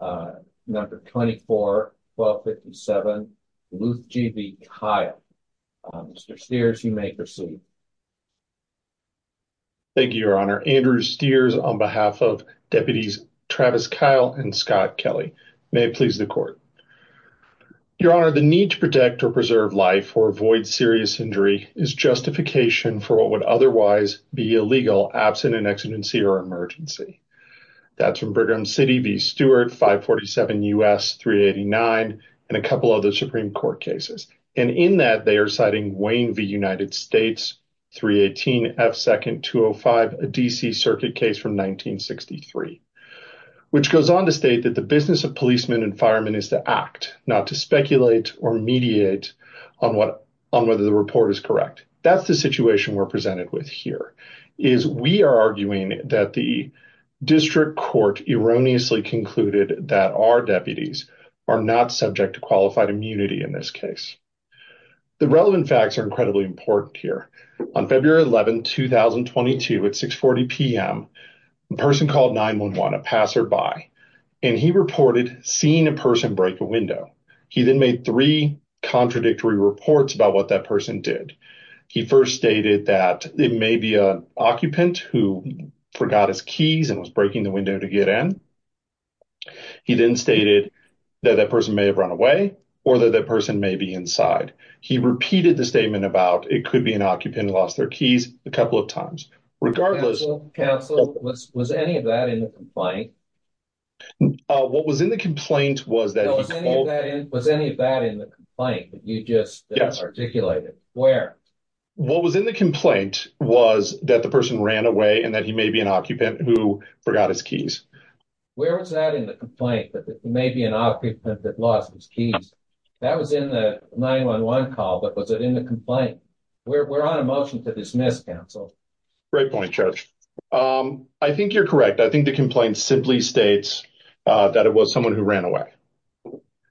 Thank you, your honor. Andrew Steers, on behalf of deputies Travis Kyle and Scott Kelly. May it please the court. Your honor, the need to protect or preserve life or avoid serious injury is justification for what would otherwise be illegal, absent an exigency or emergency. That's from Brigham City v. Stewart, 547 U.S. 389, and a couple other Supreme Court cases. And in that they are citing Wayne v. United States 318 F. Second 205, a D.C. Circuit case from 1963. Which goes on to state that the business of policemen and firemen is to act, not to speculate or mediate on what on whether the report is correct. That's the situation we're presented with here is we are arguing that the district court erroneously concluded that our deputies are not subject to qualified immunity in this case. The relevant facts are incredibly important here. On February 11, 2022, at 640 p.m., a person called 911, a passerby, and he reported seeing a person break a window. He then made three contradictory reports about what that person did. He first stated that it may be an occupant who forgot his keys and was breaking the window to get in. He then stated that that person may have run away or that that person may be inside. He repeated the statement about it could be an occupant who lost their keys a couple of times. Regardless, was any of that in the complaint? What was in the complaint was that was any of that in the complaint that you just articulated where what was in the complaint was that the person ran away and that he may be an occupant who forgot his keys. Where was that in the complaint that it may be an occupant that lost his keys? That was in the 911 call, but was it in the complaint? We're on a motion to dismiss counsel. Great point, Judge. I think you're correct. I think the complaint simply states that it was someone who ran away.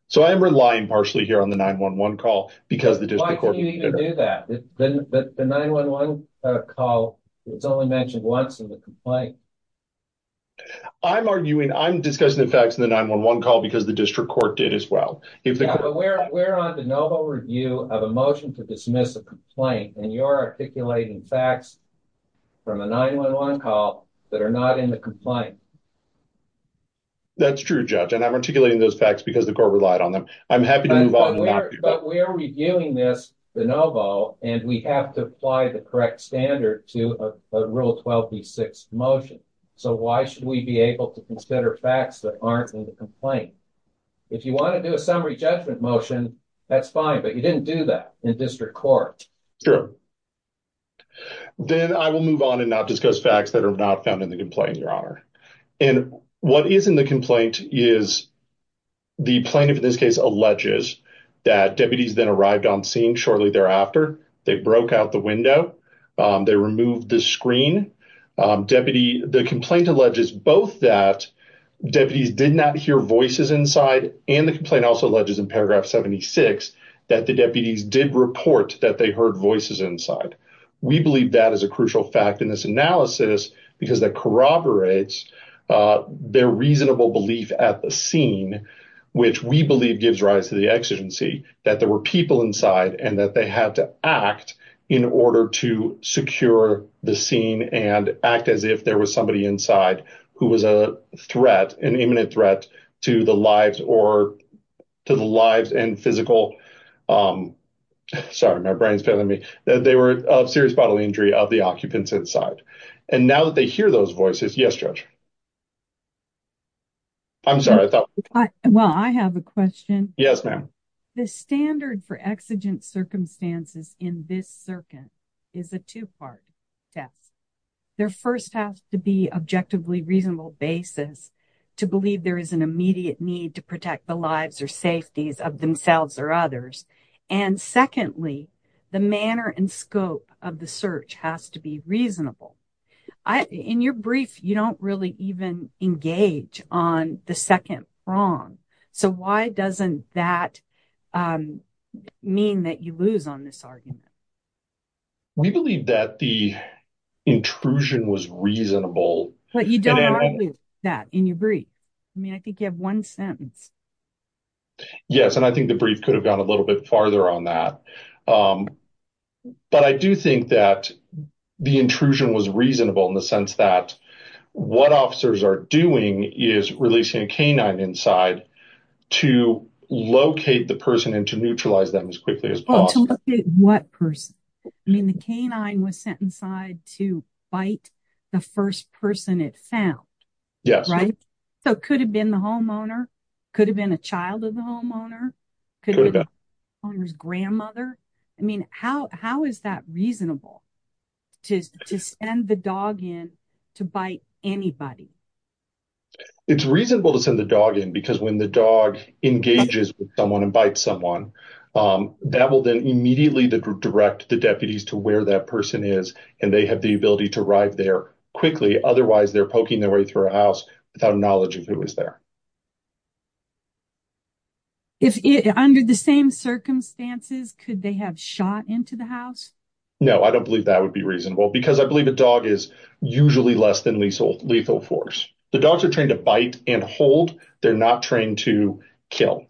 So I am relying partially here on the 911 call because the district court. The 911 call was only mentioned once in the complaint. I'm arguing I'm discussing the facts in the 911 call because the district court did as well. We're on the noble review of a motion to dismiss a complaint, and you're articulating facts from a 911 call that are not in the complaint. That's true, Judge, and I'm articulating those facts because the court relied on them. I'm happy to move on. But we are reviewing this de novo, and we have to apply the correct standard to a Rule 12b6 motion. So why should we be able to consider facts that aren't in the complaint? If you want to do a summary judgment motion, that's fine, but you didn't do that in district court. Sure. Then I will move on and not discuss facts that are not found in the complaint, Your Honor. What is in the complaint is the plaintiff, in this case, alleges that deputies then arrived on scene shortly thereafter. They broke out the window. They removed the screen. The complaint alleges both that deputies did not hear voices inside, and the complaint also alleges in paragraph 76 that the deputies did report that they heard voices inside. We believe that is a crucial fact in this analysis because that corroborates their reasonable belief at the scene, which we believe gives rise to the exigency that there were people inside and that they had to act in order to secure the scene and act as if there was somebody inside who was a threat, an imminent threat to the lives and physical – of serious bodily injury of the occupants inside. And now that they hear those voices – yes, Judge? I'm sorry, I thought – Well, I have a question. Yes, ma'am. The standard for exigent circumstances in this circuit is a two-part test. There first has to be objectively reasonable basis to believe there is an immediate need to protect the lives or safeties of themselves or others. And secondly, the manner and scope of the search has to be reasonable. In your brief, you don't really even engage on the second prong. So why doesn't that mean that you lose on this argument? We believe that the intrusion was reasonable. But you don't argue that in your brief. I mean, I think you have one sentence. Yes, and I think the brief could have gone a little bit farther on that. But I do think that the intrusion was reasonable in the sense that what officers are doing is releasing a canine inside to locate the person and to neutralize them as quickly as possible. To locate what person? I mean, the canine was sent inside to bite the first person it found. Yes. Right? So it could have been the homeowner. Could have been a child of the homeowner. Could have been the homeowner's grandmother. I mean, how is that reasonable to send the dog in to bite anybody? It's reasonable to send the dog in because when the dog engages with someone and bites someone, that will then immediately direct the deputies to where that person is. And they have the ability to arrive there quickly. Otherwise, they're poking their way through a house without knowledge of who is there. Under the same circumstances, could they have shot into the house? No, I don't believe that would be reasonable because I believe a dog is usually less than lethal force. The dogs are trained to bite and hold. They're not trained to kill.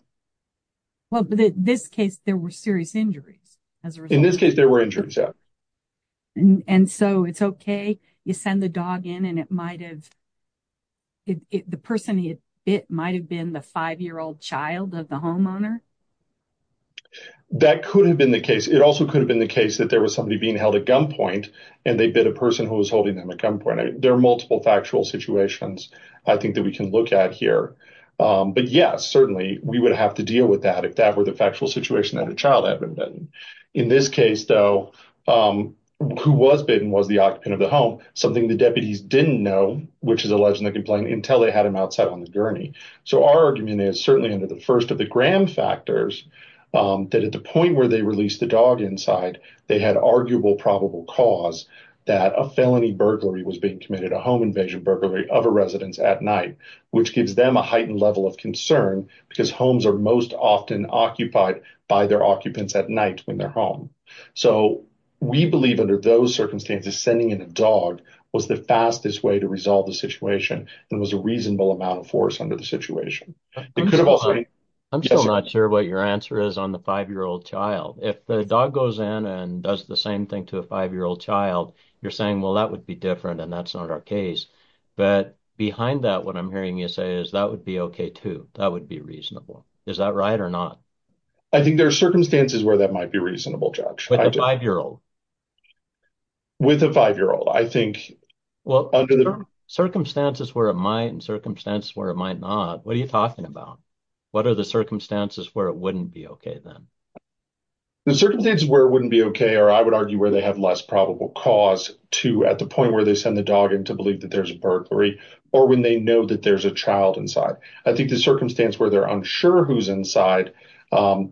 Well, in this case, there were serious injuries as a result. In this case, there were injuries, yeah. And so it's okay? You send the dog in and it might have – the person it bit might have been the five-year-old child of the homeowner? That could have been the case. It also could have been the case that there was somebody being held at gunpoint and they bit a person who was holding them at gunpoint. There are multiple factual situations, I think, that we can look at here. But, yes, certainly, we would have to deal with that if that were the factual situation that a child had been bitten. In this case, though, who was bitten was the occupant of the home, something the deputies didn't know, which is a legend they complained, until they had him outside on the gurney. So our argument is, certainly under the first of the Graham factors, that at the point where they released the dog inside, they had arguable probable cause that a felony burglary was being committed, a home invasion burglary of a residence at night, which gives them a heightened level of concern because homes are most often occupied by their occupants at night when they're home. So we believe, under those circumstances, sending in a dog was the fastest way to resolve the situation. There was a reasonable amount of force under the situation. I'm still not sure what your answer is on the five-year-old child. If the dog goes in and does the same thing to a five-year-old child, you're saying, well, that would be different and that's not our case. But behind that, what I'm hearing you say is that would be okay, too. That would be reasonable. Is that right or not? I think there are circumstances where that might be reasonable, Judge. With a five-year-old? With a five-year-old. Well, circumstances where it might and circumstances where it might not, what are you talking about? What are the circumstances where it wouldn't be okay, then? The circumstances where it wouldn't be okay are, I would argue, where they have less probable cause, too, at the point where they send the dog in to believe that there's a burglary or when they know that there's a child inside. I think the circumstance where they're unsure who's inside,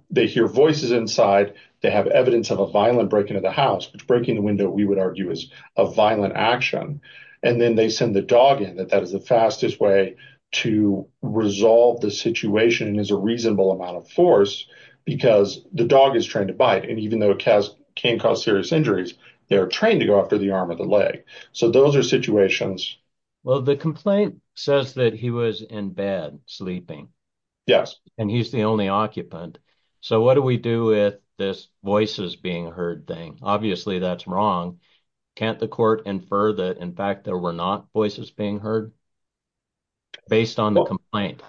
they hear voices inside, they have evidence of a violent break into the house, which breaking the window, we would argue, is a violent action. And then they send the dog in, that that is the fastest way to resolve the situation and is a reasonable amount of force because the dog is trained to bite. And even though it can cause serious injuries, they are trained to go after the arm or the leg. So those are situations. Well, the complaint says that he was in bed sleeping. Yes. And he's the only occupant. So what do we do with this voices being heard thing? Obviously, that's wrong. Can't the court infer that, in fact, there were not voices being heard based on the complaint?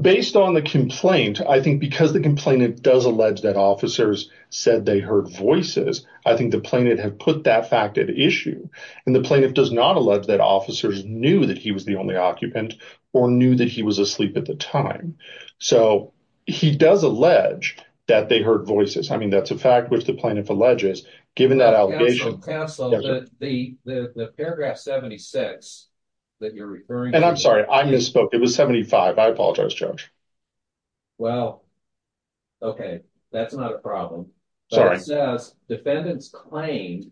Based on the complaint, I think because the complainant does allege that officers said they heard voices, I think the plaintiff had put that fact at issue. And the plaintiff does not allege that officers knew that he was the only occupant or knew that he was asleep at the time. So he does allege that they heard voices. I mean, that's a fact which the plaintiff alleges. Given that allegation. Counsel, the paragraph 76 that you're referring to. And I'm sorry, I misspoke. It was 75. I apologize, Judge. Well, OK, that's not a problem. Defendants claim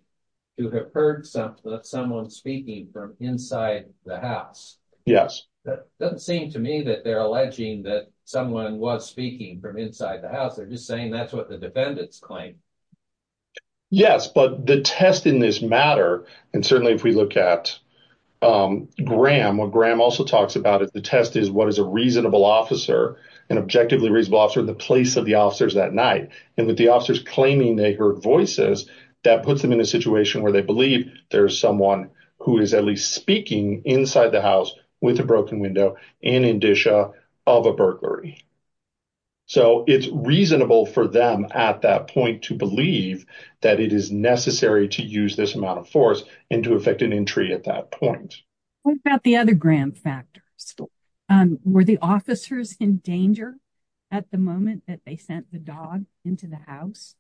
to have heard someone speaking from inside the house. Yes. It doesn't seem to me that they're alleging that someone was speaking from inside the house. They're just saying that's what the defendants claim. Yes. But the test in this matter, and certainly if we look at Graham, what Graham also talks about is the test is what is a reasonable officer, an objectively reasonable officer in the place of the officers that night. And with the officers claiming they heard voices, that puts them in a situation where they believe there's someone who is at least speaking inside the house with a broken window in indicia of a burglary. So it's reasonable for them at that point to believe that it is necessary to use this amount of force and to effect an entry at that point. What about the other Graham factors? Were the officers in danger at the moment that they sent the dog into the house?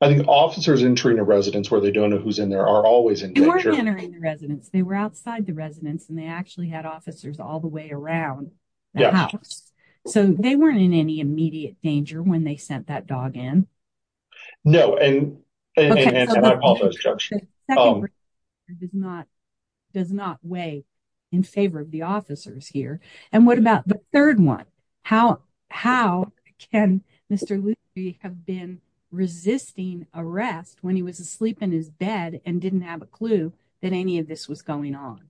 I think officers entering a residence where they don't know who's in there are always in danger. They weren't entering the residence. They were outside the residence and they actually had officers all the way around the house. So they weren't in any immediate danger when they sent that dog in. No, and I apologize, Judge. The second one does not weigh in favor of the officers here. And what about the third one? How can Mr. Luthi have been resisting arrest when he was asleep in his bed and didn't have a clue that any of this was going on?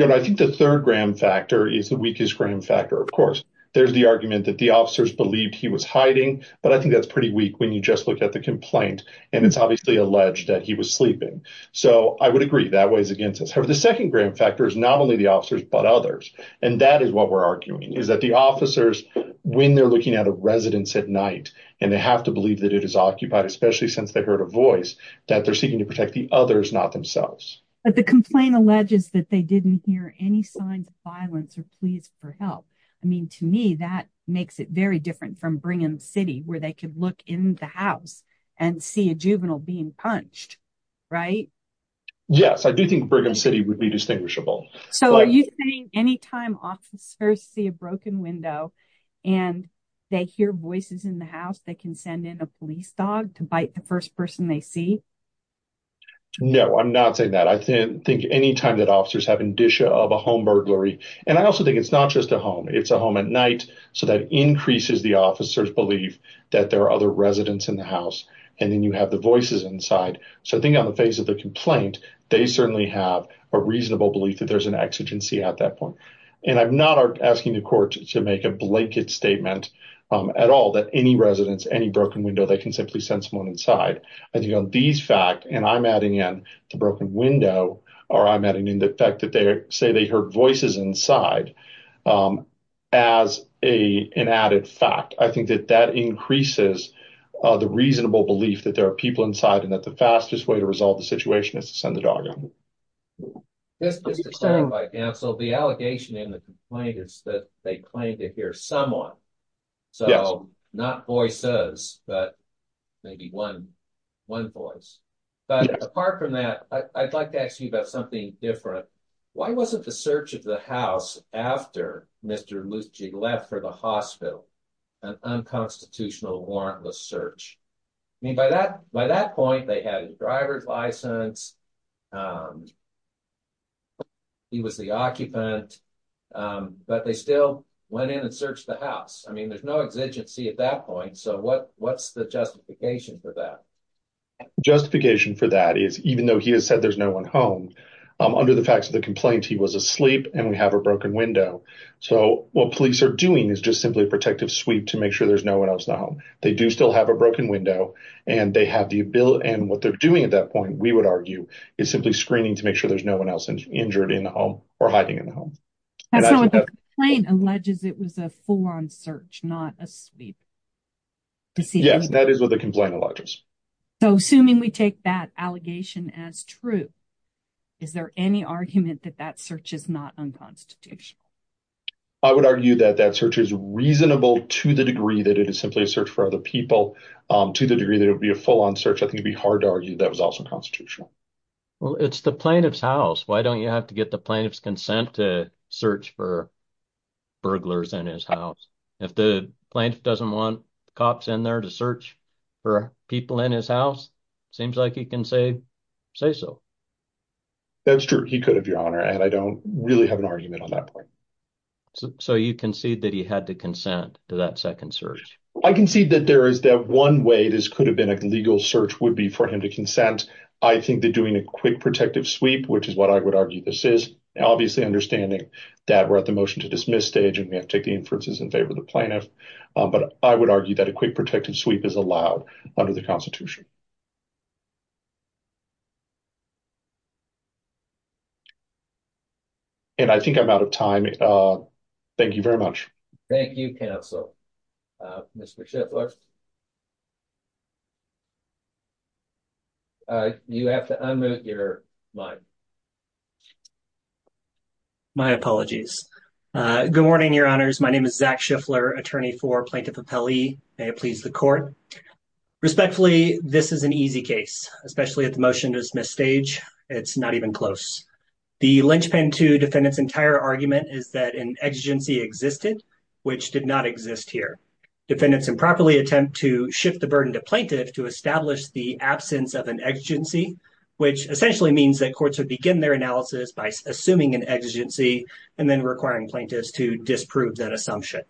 I think the third Graham factor is the weakest Graham factor, of course. There's the argument that the officers believed he was hiding, but I think that's pretty weak when you just look at the complaint. And it's obviously alleged that he was sleeping. So I would agree that weighs against us. However, the second Graham factor is not only the officers, but others. And that is what we're arguing, is that the officers, when they're looking at a residence at night and they have to believe that it is occupied, especially since they heard a voice, that they're seeking to protect the others, not themselves. But the complaint alleges that they didn't hear any signs of violence or pleas for help. I mean, to me, that makes it very different from Brigham City, where they could look in the house and see a juvenile being punched, right? Yes, I do think Brigham City would be distinguishable. So are you saying anytime officers see a broken window and they hear voices in the house, they can send in a police dog to bite the first person they see? No, I'm not saying that. I think any time that officers have indicia of a home burglary. And I also think it's not just a home. It's a home at night. So that increases the officer's belief that there are other residents in the house. And then you have the voices inside. So I think on the face of the complaint, they certainly have a reasonable belief that there's an exigency at that point. And I'm not asking the court to make a blanket statement at all that any residents, any broken window, they can simply send someone inside. I think on these facts, and I'm adding in the broken window, or I'm adding in the fact that they say they heard voices inside as an added fact. I think that that increases the reasonable belief that there are people inside and that the fastest way to resolve the situation is to send the dog in. So the allegation in the complaint is that they claim to hear someone. So not voices, but maybe one voice. But apart from that, I'd like to ask you about something different. Why wasn't the search of the house after Mr. Luschig left for the hospital an unconstitutional warrantless search? I mean, by that point, they had his driver's license, he was the occupant, but they still went in and searched the house. I mean, there's no exigency at that point. So what's the justification for that? Justification for that is even though he has said there's no one home, under the facts of the complaint, he was asleep and we have a broken window. So what police are doing is just simply a protective sweep to make sure there's no one else in the home. They do still have a broken window, and what they're doing at that point, we would argue, is simply screening to make sure there's no one else injured in the home or hiding in the home. So the complaint alleges it was a full-on search, not a sweep. Yes, that is what the complaint alleges. So assuming we take that allegation as true, is there any argument that that search is not unconstitutional? I would argue that that search is reasonable to the degree that it is simply a search for other people. To the degree that it would be a full-on search, I think it would be hard to argue that was also constitutional. Well, it's the plaintiff's house. Why don't you have to get the plaintiff's consent to search for burglars in his house? If the plaintiff doesn't want cops in there to search for people in his house, seems like he can say so. That's true. He could, Your Honor, and I don't really have an argument on that point. So you concede that he had to consent to that second search? I concede that there is that one way this could have been a legal search would be for him to consent. I think that doing a quick protective sweep, which is what I would argue this is, obviously understanding that we're at the motion to dismiss stage and we have to take the inferences in favor of the plaintiff, but I would argue that a quick protective sweep is allowed under the Constitution. And I think I'm out of time. Thank you very much. Thank you, Counsel. Mr. Schiffler, you have to unmute your mic. My apologies. Good morning, Your Honors. My name is Zach Schiffler, attorney for Plaintiff Appellee. May it please the court. Respectfully, this is an easy case, especially at the motion to dismiss stage. It's not even close. The linchpin to defendants entire argument is that an exigency existed, which did not exist here. Defendants improperly attempt to shift the burden to plaintiff to establish the absence of an exigency, which essentially means that courts would begin their analysis by assuming an exigency and then requiring plaintiffs to disprove that assumption.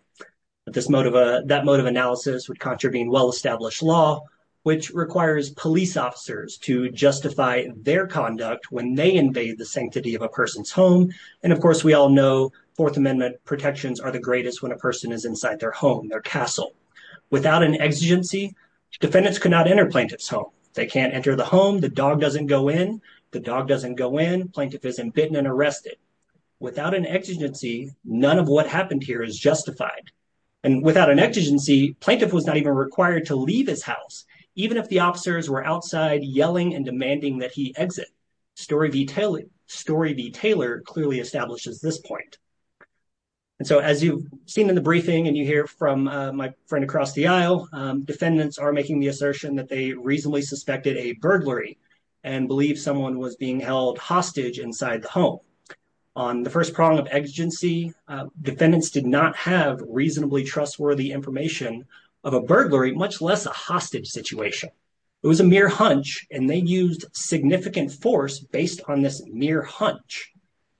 But this motive, that motive analysis would contravene well-established law, which requires police officers to justify their conduct when they invade the sanctity of a person's home. And of course, we all know Fourth Amendment protections are the greatest when a person is inside their home, their castle. Without an exigency, defendants cannot enter plaintiff's home. They can't enter the home. The dog doesn't go in. The dog doesn't go in. Plaintiff is embitten and arrested. Without an exigency, none of what happened here is justified. And without an exigency, plaintiff was not even required to leave his house, even if the officers were outside yelling and demanding that he exit. Story v. Taylor clearly establishes this point. And so as you've seen in the briefing and you hear from my friend across the aisle, defendants are making the assertion that they reasonably suspected a burglary and believe someone was being held hostage inside the home. On the first prong of exigency, defendants did not have reasonably trustworthy information of a burglary, much less a hostage situation. It was a mere hunch, and they used significant force based on this mere hunch.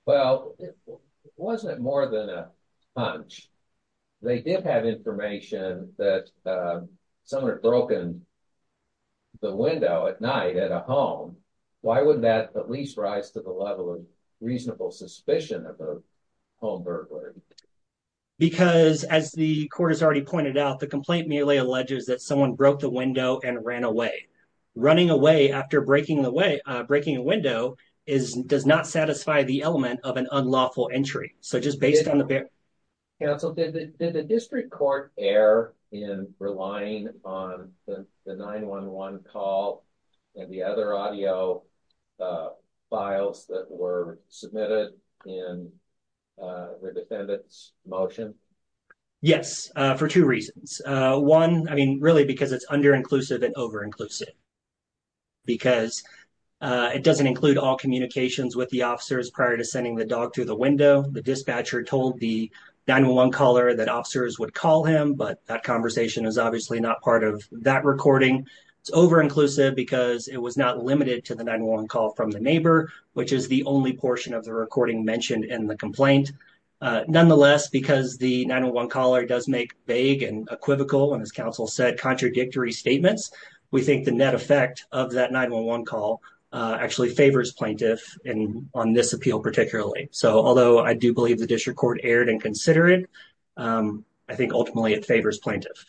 Well, it wasn't more than a hunch. They did have information that someone had broken the window at night at a home. Why wouldn't that at least rise to the level of reasonable suspicion of a home burglary? Because, as the court has already pointed out, the complaint merely alleges that someone broke the window and ran away. Running away after breaking a window does not satisfy the element of an unlawful entry. Counsel, did the district court err in relying on the 911 call and the other audio files that were submitted in the defendant's motion? Yes, for two reasons. One, I mean, really, because it's underinclusive and overinclusive. Because it doesn't include all communications with the officers prior to sending the dog through the window. The dispatcher told the 911 caller that officers would call him, but that conversation is obviously not part of that recording. It's overinclusive because it was not limited to the 911 call from the neighbor, which is the only portion of the recording mentioned in the complaint. Nonetheless, because the 911 caller does make vague and equivocal and, as counsel said, contradictory statements, we think the net effect of that 911 call actually favors plaintiff on this appeal particularly. So although I do believe the district court erred in considering, I think ultimately it favors plaintiff.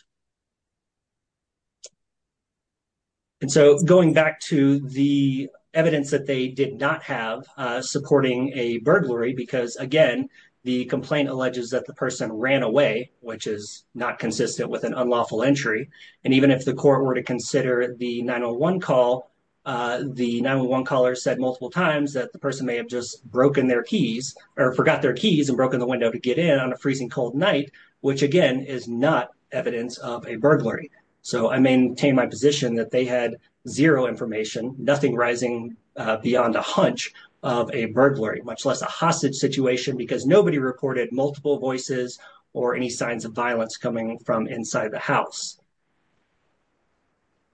And so going back to the evidence that they did not have supporting a burglary, because, again, the complaint alleges that the person ran away, which is not consistent with an unlawful entry. And even if the court were to consider the 911 call, the 911 caller said multiple times that the person may have just broken their keys or forgot their keys and broken the window to get in on a freezing cold night, which, again, is not evidence of a burglary. So I maintain my position that they had zero information, nothing rising beyond a hunch of a burglary, much less a hostage situation, because nobody reported multiple voices or any signs of violence coming from inside the house.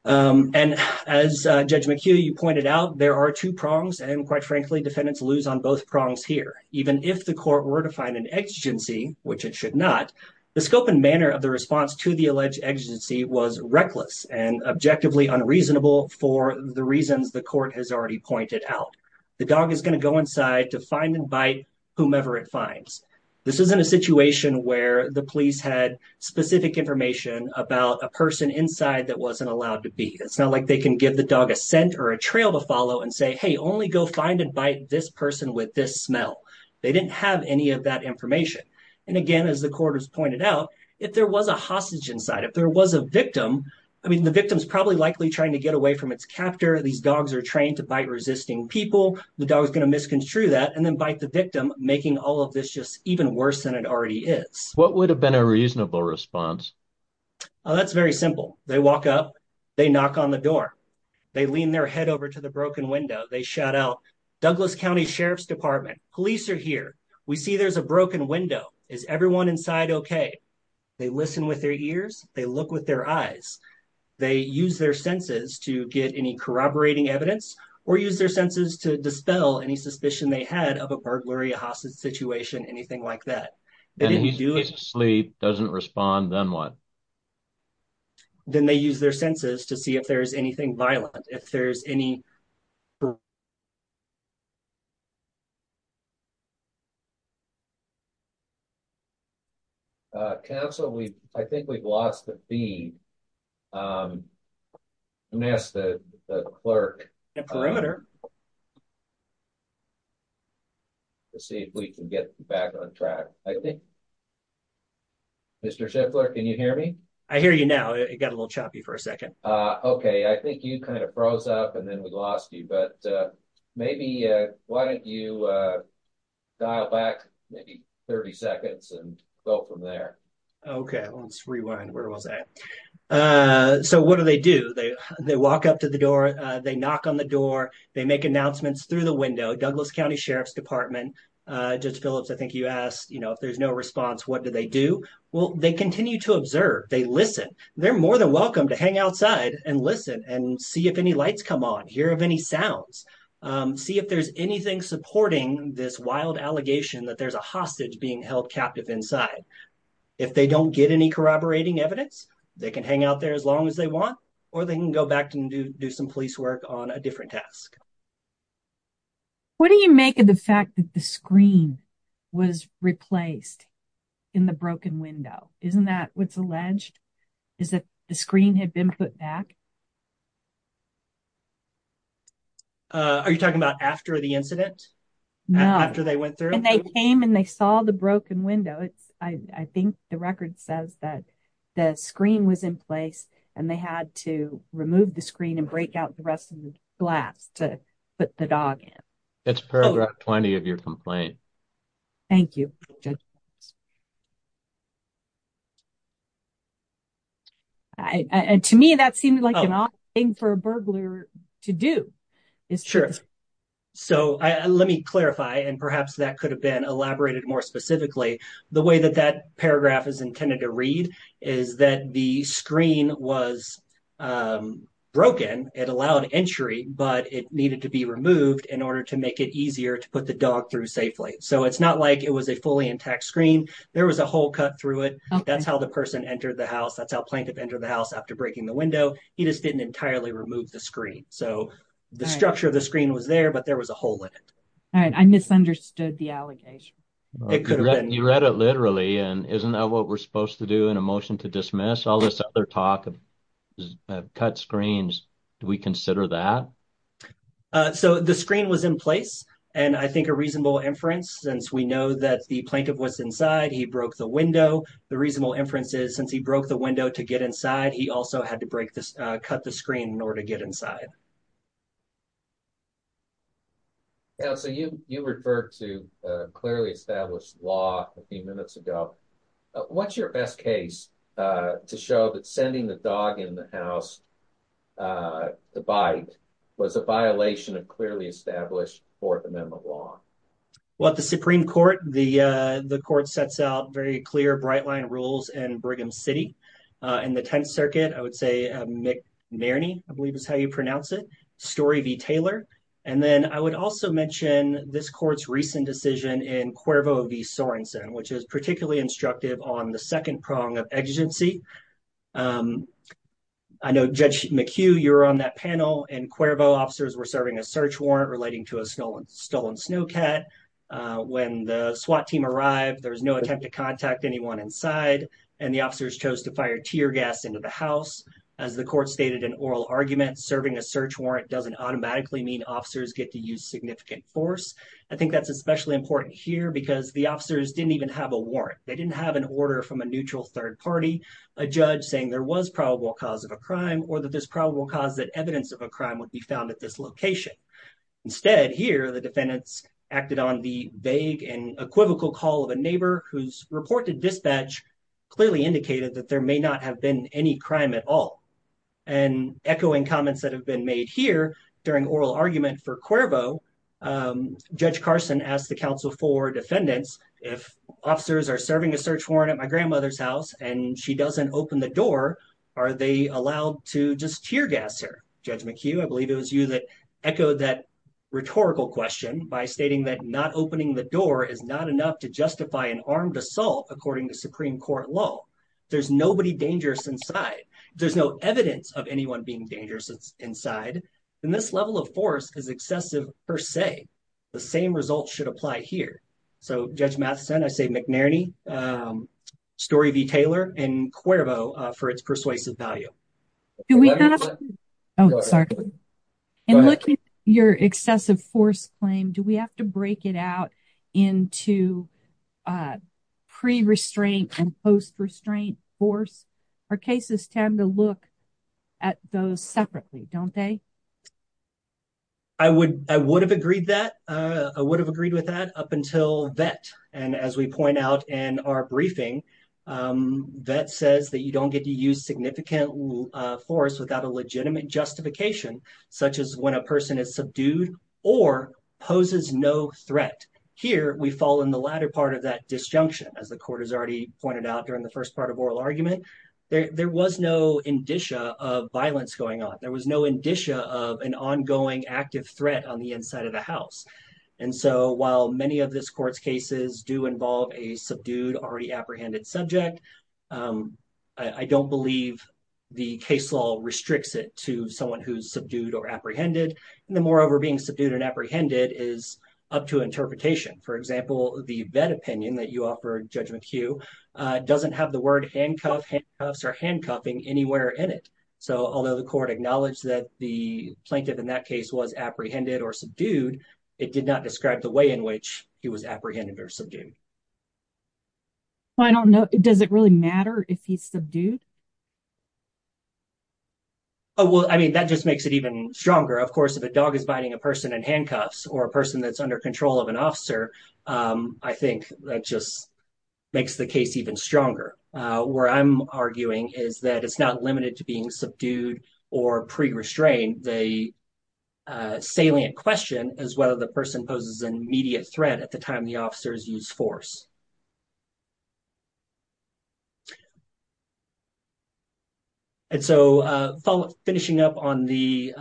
And as Judge McHugh, you pointed out, there are two prongs, and quite frankly, defendants lose on both prongs here. Even if the court were to find an exigency, which it should not, the scope and manner of the response to the alleged exigency was reckless and objectively unreasonable for the reasons the court has already pointed out. The dog is going to go inside to find and bite whomever it finds. This isn't a situation where the police had specific information about a person inside that wasn't allowed to be. It's not like they can give the dog a scent or a trail to follow and say, hey, only go find and bite this person with this smell. They didn't have any of that information. And, again, as the court has pointed out, if there was a hostage inside, if there was a victim, I mean, the victim is probably likely trying to get away from its captor. These dogs are trained to bite resisting people. The dog is going to misconstrue that and then bite the victim, making all of this just even worse than it already is. What would have been a reasonable response? Oh, that's very simple. They walk up. They knock on the door. They lean their head over to the broken window. They shout out, Douglas County Sheriff's Department, police are here. We see there's a broken window. Is everyone inside OK? They listen with their ears. They look with their eyes. They use their senses to get any corroborating evidence or use their senses to dispel any suspicion they had of a burglary, a hostage situation, anything like that. If he's asleep, doesn't respond, then what? Then they use their senses to see if there's anything violent. If there's any. Council, I think we've lost the feed. I'm going to ask the clerk to see if we can get back on track, I think. Mr. Sheffler, can you hear me? I hear you now. It got a little choppy for a second. OK, I think you kind of froze up and then we lost you. But maybe why don't you dial back maybe 30 seconds and go from there? OK, let's rewind. Where was I? So what do they do? They they walk up to the door. They knock on the door. They make announcements through the window. Douglas County Sheriff's Department. Just Phillips, I think you asked, you know, if there's no response, what do they do? Well, they continue to observe. They listen. They're more than welcome to hang outside and listen and see if any lights come on. Hear of any sounds. See if there's anything supporting this wild allegation that there's a hostage being held captive inside. If they don't get any corroborating evidence, they can hang out there as long as they want. Or they can go back and do some police work on a different task. What do you make of the fact that the screen was replaced in the broken window? Isn't that what's alleged is that the screen had been put back? Are you talking about after the incident? No. After they went through and they came and they saw the broken window. I think the record says that the screen was in place and they had to remove the screen and break out the rest of the glass to put the dog in. That's paragraph 20 of your complaint. Thank you. And to me, that seemed like a thing for a burglar to do. It's true. Let me clarify and perhaps that could have been elaborated more specifically. The way that that paragraph is intended to read is that the screen was broken. It allowed entry, but it needed to be removed in order to make it easier to put the dog through safely. So it's not like it was a fully intact screen. There was a hole cut through it. That's how the person entered the house. That's how plaintiff entered the house after breaking the window. He just didn't entirely remove the screen. So the structure of the screen was there, but there was a hole in it. All right. I misunderstood the allegation. You read it literally, and isn't that what we're supposed to do in a motion to dismiss? All this other talk of cut screens, do we consider that? So the screen was in place, and I think a reasonable inference, since we know that the plaintiff was inside, he broke the window. The reasonable inference is since he broke the window to get inside, he also had to cut the screen in order to get inside. So you referred to clearly established law a few minutes ago. What's your best case to show that sending the dog in the house to bite was a violation of clearly established Fourth Amendment law? Well, at the Supreme Court, the court sets out very clear, bright-line rules in Brigham City. In the Tenth Circuit, I would say McNerney, I believe is how you pronounce it, Story v. Taylor. And then I would also mention this court's recent decision in Cuervo v. Sorensen, which is particularly instructive on the second prong of exigency. I know, Judge McHugh, you were on that panel, and Cuervo officers were serving a search warrant relating to a stolen snowcat. When the SWAT team arrived, there was no attempt to contact anyone inside, and the officers chose to fire tear gas into the house. As the court stated in oral argument, serving a search warrant doesn't automatically mean officers get to use significant force. I think that's especially important here because the officers didn't even have a warrant. They didn't have an order from a neutral third party, a judge saying there was probable cause of a crime, or that there's probable cause that evidence of a crime would be found at this location. Instead, here, the defendants acted on the vague and equivocal call of a neighbor whose reported dispatch clearly indicated that there may not have been any crime at all. Echoing comments that have been made here during oral argument for Cuervo, Judge Carson asked the counsel for defendants, if officers are serving a search warrant at my grandmother's house and she doesn't open the door, are they allowed to just tear gas her? Judge McHugh, I believe it was you that echoed that rhetorical question by stating that not opening the door is not enough to justify an armed assault, according to Supreme Court law. If there's nobody dangerous inside, if there's no evidence of anyone being dangerous inside, then this level of force is excessive per se. The same results should apply here. So, Judge Matheson, I say McNerney, Story v. Taylor, and Cuervo for its persuasive value. Oh, sorry. In looking at your excessive force claim, do we have to break it out into pre-restraint and post-restraint force? Our cases tend to look at those separately, don't they? I would have agreed with that up until Vette. And as we point out in our briefing, Vette says that you don't get to use significant force without a legitimate justification, such as when a person is subdued or poses no threat. Here, we fall in the latter part of that disjunction, as the court has already pointed out during the first part of oral argument. There was no indicia of violence going on. There was no indicia of an ongoing active threat on the inside of the house. And so while many of this court's cases do involve a subdued, already apprehended subject, I don't believe the case law restricts it to someone who's subdued or apprehended. And then, moreover, being subdued and apprehended is up to interpretation. For example, the Vette opinion that you offer, Judge McHugh, doesn't have the word handcuff, handcuffs, or handcuffing anywhere in it. So although the court acknowledged that the plaintiff in that case was apprehended or subdued, it did not describe the way in which he was apprehended or subdued. I don't know. Does it really matter if he's subdued? Well, I mean, that just makes it even stronger. Of course, if a dog is biting a person in handcuffs or a person that's under control of an officer, I think that just makes the case even stronger. Where I'm arguing is that it's not limited to being subdued or pre-restrained. The salient question is whether the person poses an immediate threat at the time the officers use force. And so finishing up on the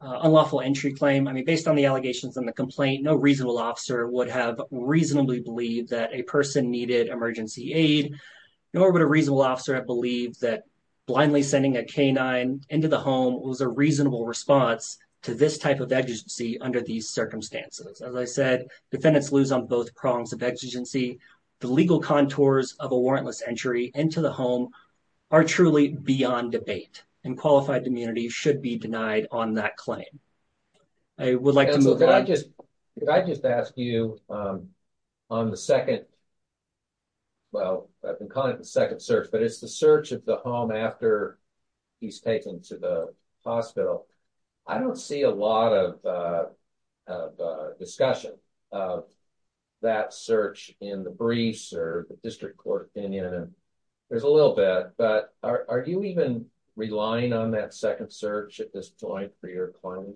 unlawful entry claim, I mean, based on the allegations in the complaint, no reasonable officer would have reasonably believed that a person needed emergency aid, nor would a reasonable officer have believed that blindly sending a canine into the home was a reasonable response to this type of exigency under these circumstances. As I said, defendants lose on both prongs of exigency. The legal contours of a warrantless entry into the home are truly beyond debate, and qualified immunity should be denied on that claim. I would like to move on. If I just ask you on the second, well, I've been calling it the second search, but it's the search of the home after he's taken to the hospital. I don't see a lot of discussion of that search in the briefs or the district court opinion. There's a little bit, but are you even relying on that second search at this point for your claim?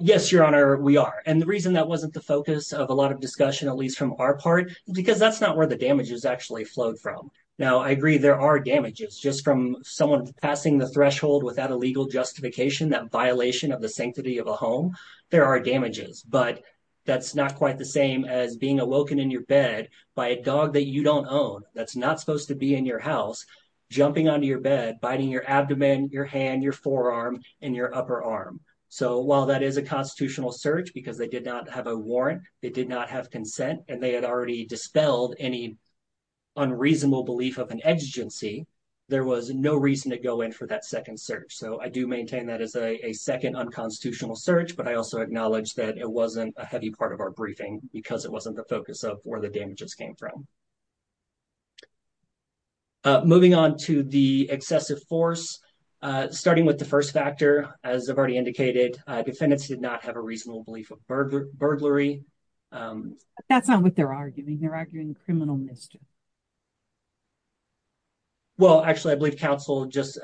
Yes, Your Honor, we are. And the reason that wasn't the focus of a lot of discussion, at least from our part, because that's not where the damages actually flowed from. Now, I agree there are damages just from someone passing the threshold without a legal justification, that violation of the sanctity of a home. But that's not quite the same as being awoken in your bed by a dog that you don't own, that's not supposed to be in your house, jumping onto your bed, biting your abdomen, your hand, your forearm, and your upper arm. So while that is a constitutional search, because they did not have a warrant, they did not have consent, and they had already dispelled any unreasonable belief of an exigency, there was no reason to go in for that second search. So I do maintain that as a second unconstitutional search, but I also acknowledge that it wasn't a heavy part of our briefing because it wasn't the focus of where the damages came from. Moving on to the excessive force, starting with the first factor, as I've already indicated, defendants did not have a reasonable belief of burglary. That's not what they're arguing, they're arguing criminal mischief. Well, actually, I believe counsel just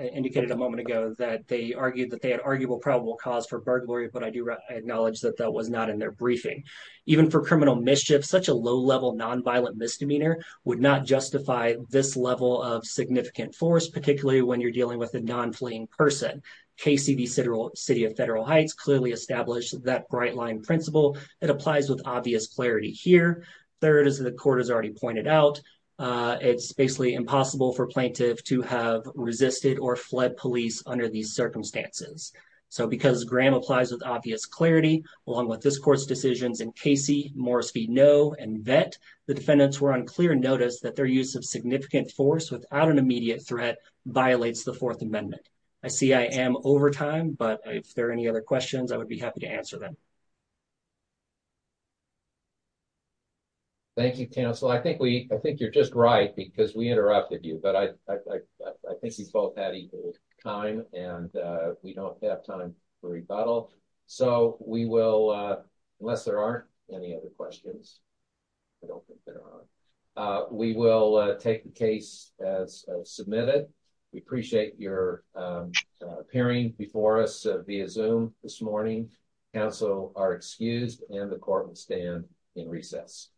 indicated a moment ago that they argued that they had arguable probable cause for burglary, but I do acknowledge that that was not in their briefing. Even for criminal mischief, such a low-level nonviolent misdemeanor would not justify this level of significant force, particularly when you're dealing with a non-fleeing person. Casey v. City of Federal Heights clearly established that bright-line principle. It applies with obvious clarity here. Third, as the court has already pointed out, it's basically impossible for a plaintiff to have resisted or fled police under these circumstances. So because Graham applies with obvious clarity, along with this court's decisions in Casey, Morris v. Noe, and Vette, the defendants were on clear notice that their use of significant force without an immediate threat violates the Fourth Amendment. I see I am over time, but if there are any other questions, I would be happy to answer them. Thank you, counsel. I think you're just right because we interrupted you, but I think he's both out of time and we don't have time for rebuttal. So we will, unless there aren't any other questions, we will take the case as submitted. We appreciate your appearing before us via Zoom this morning. Counsel are excused and the court will stand in recess.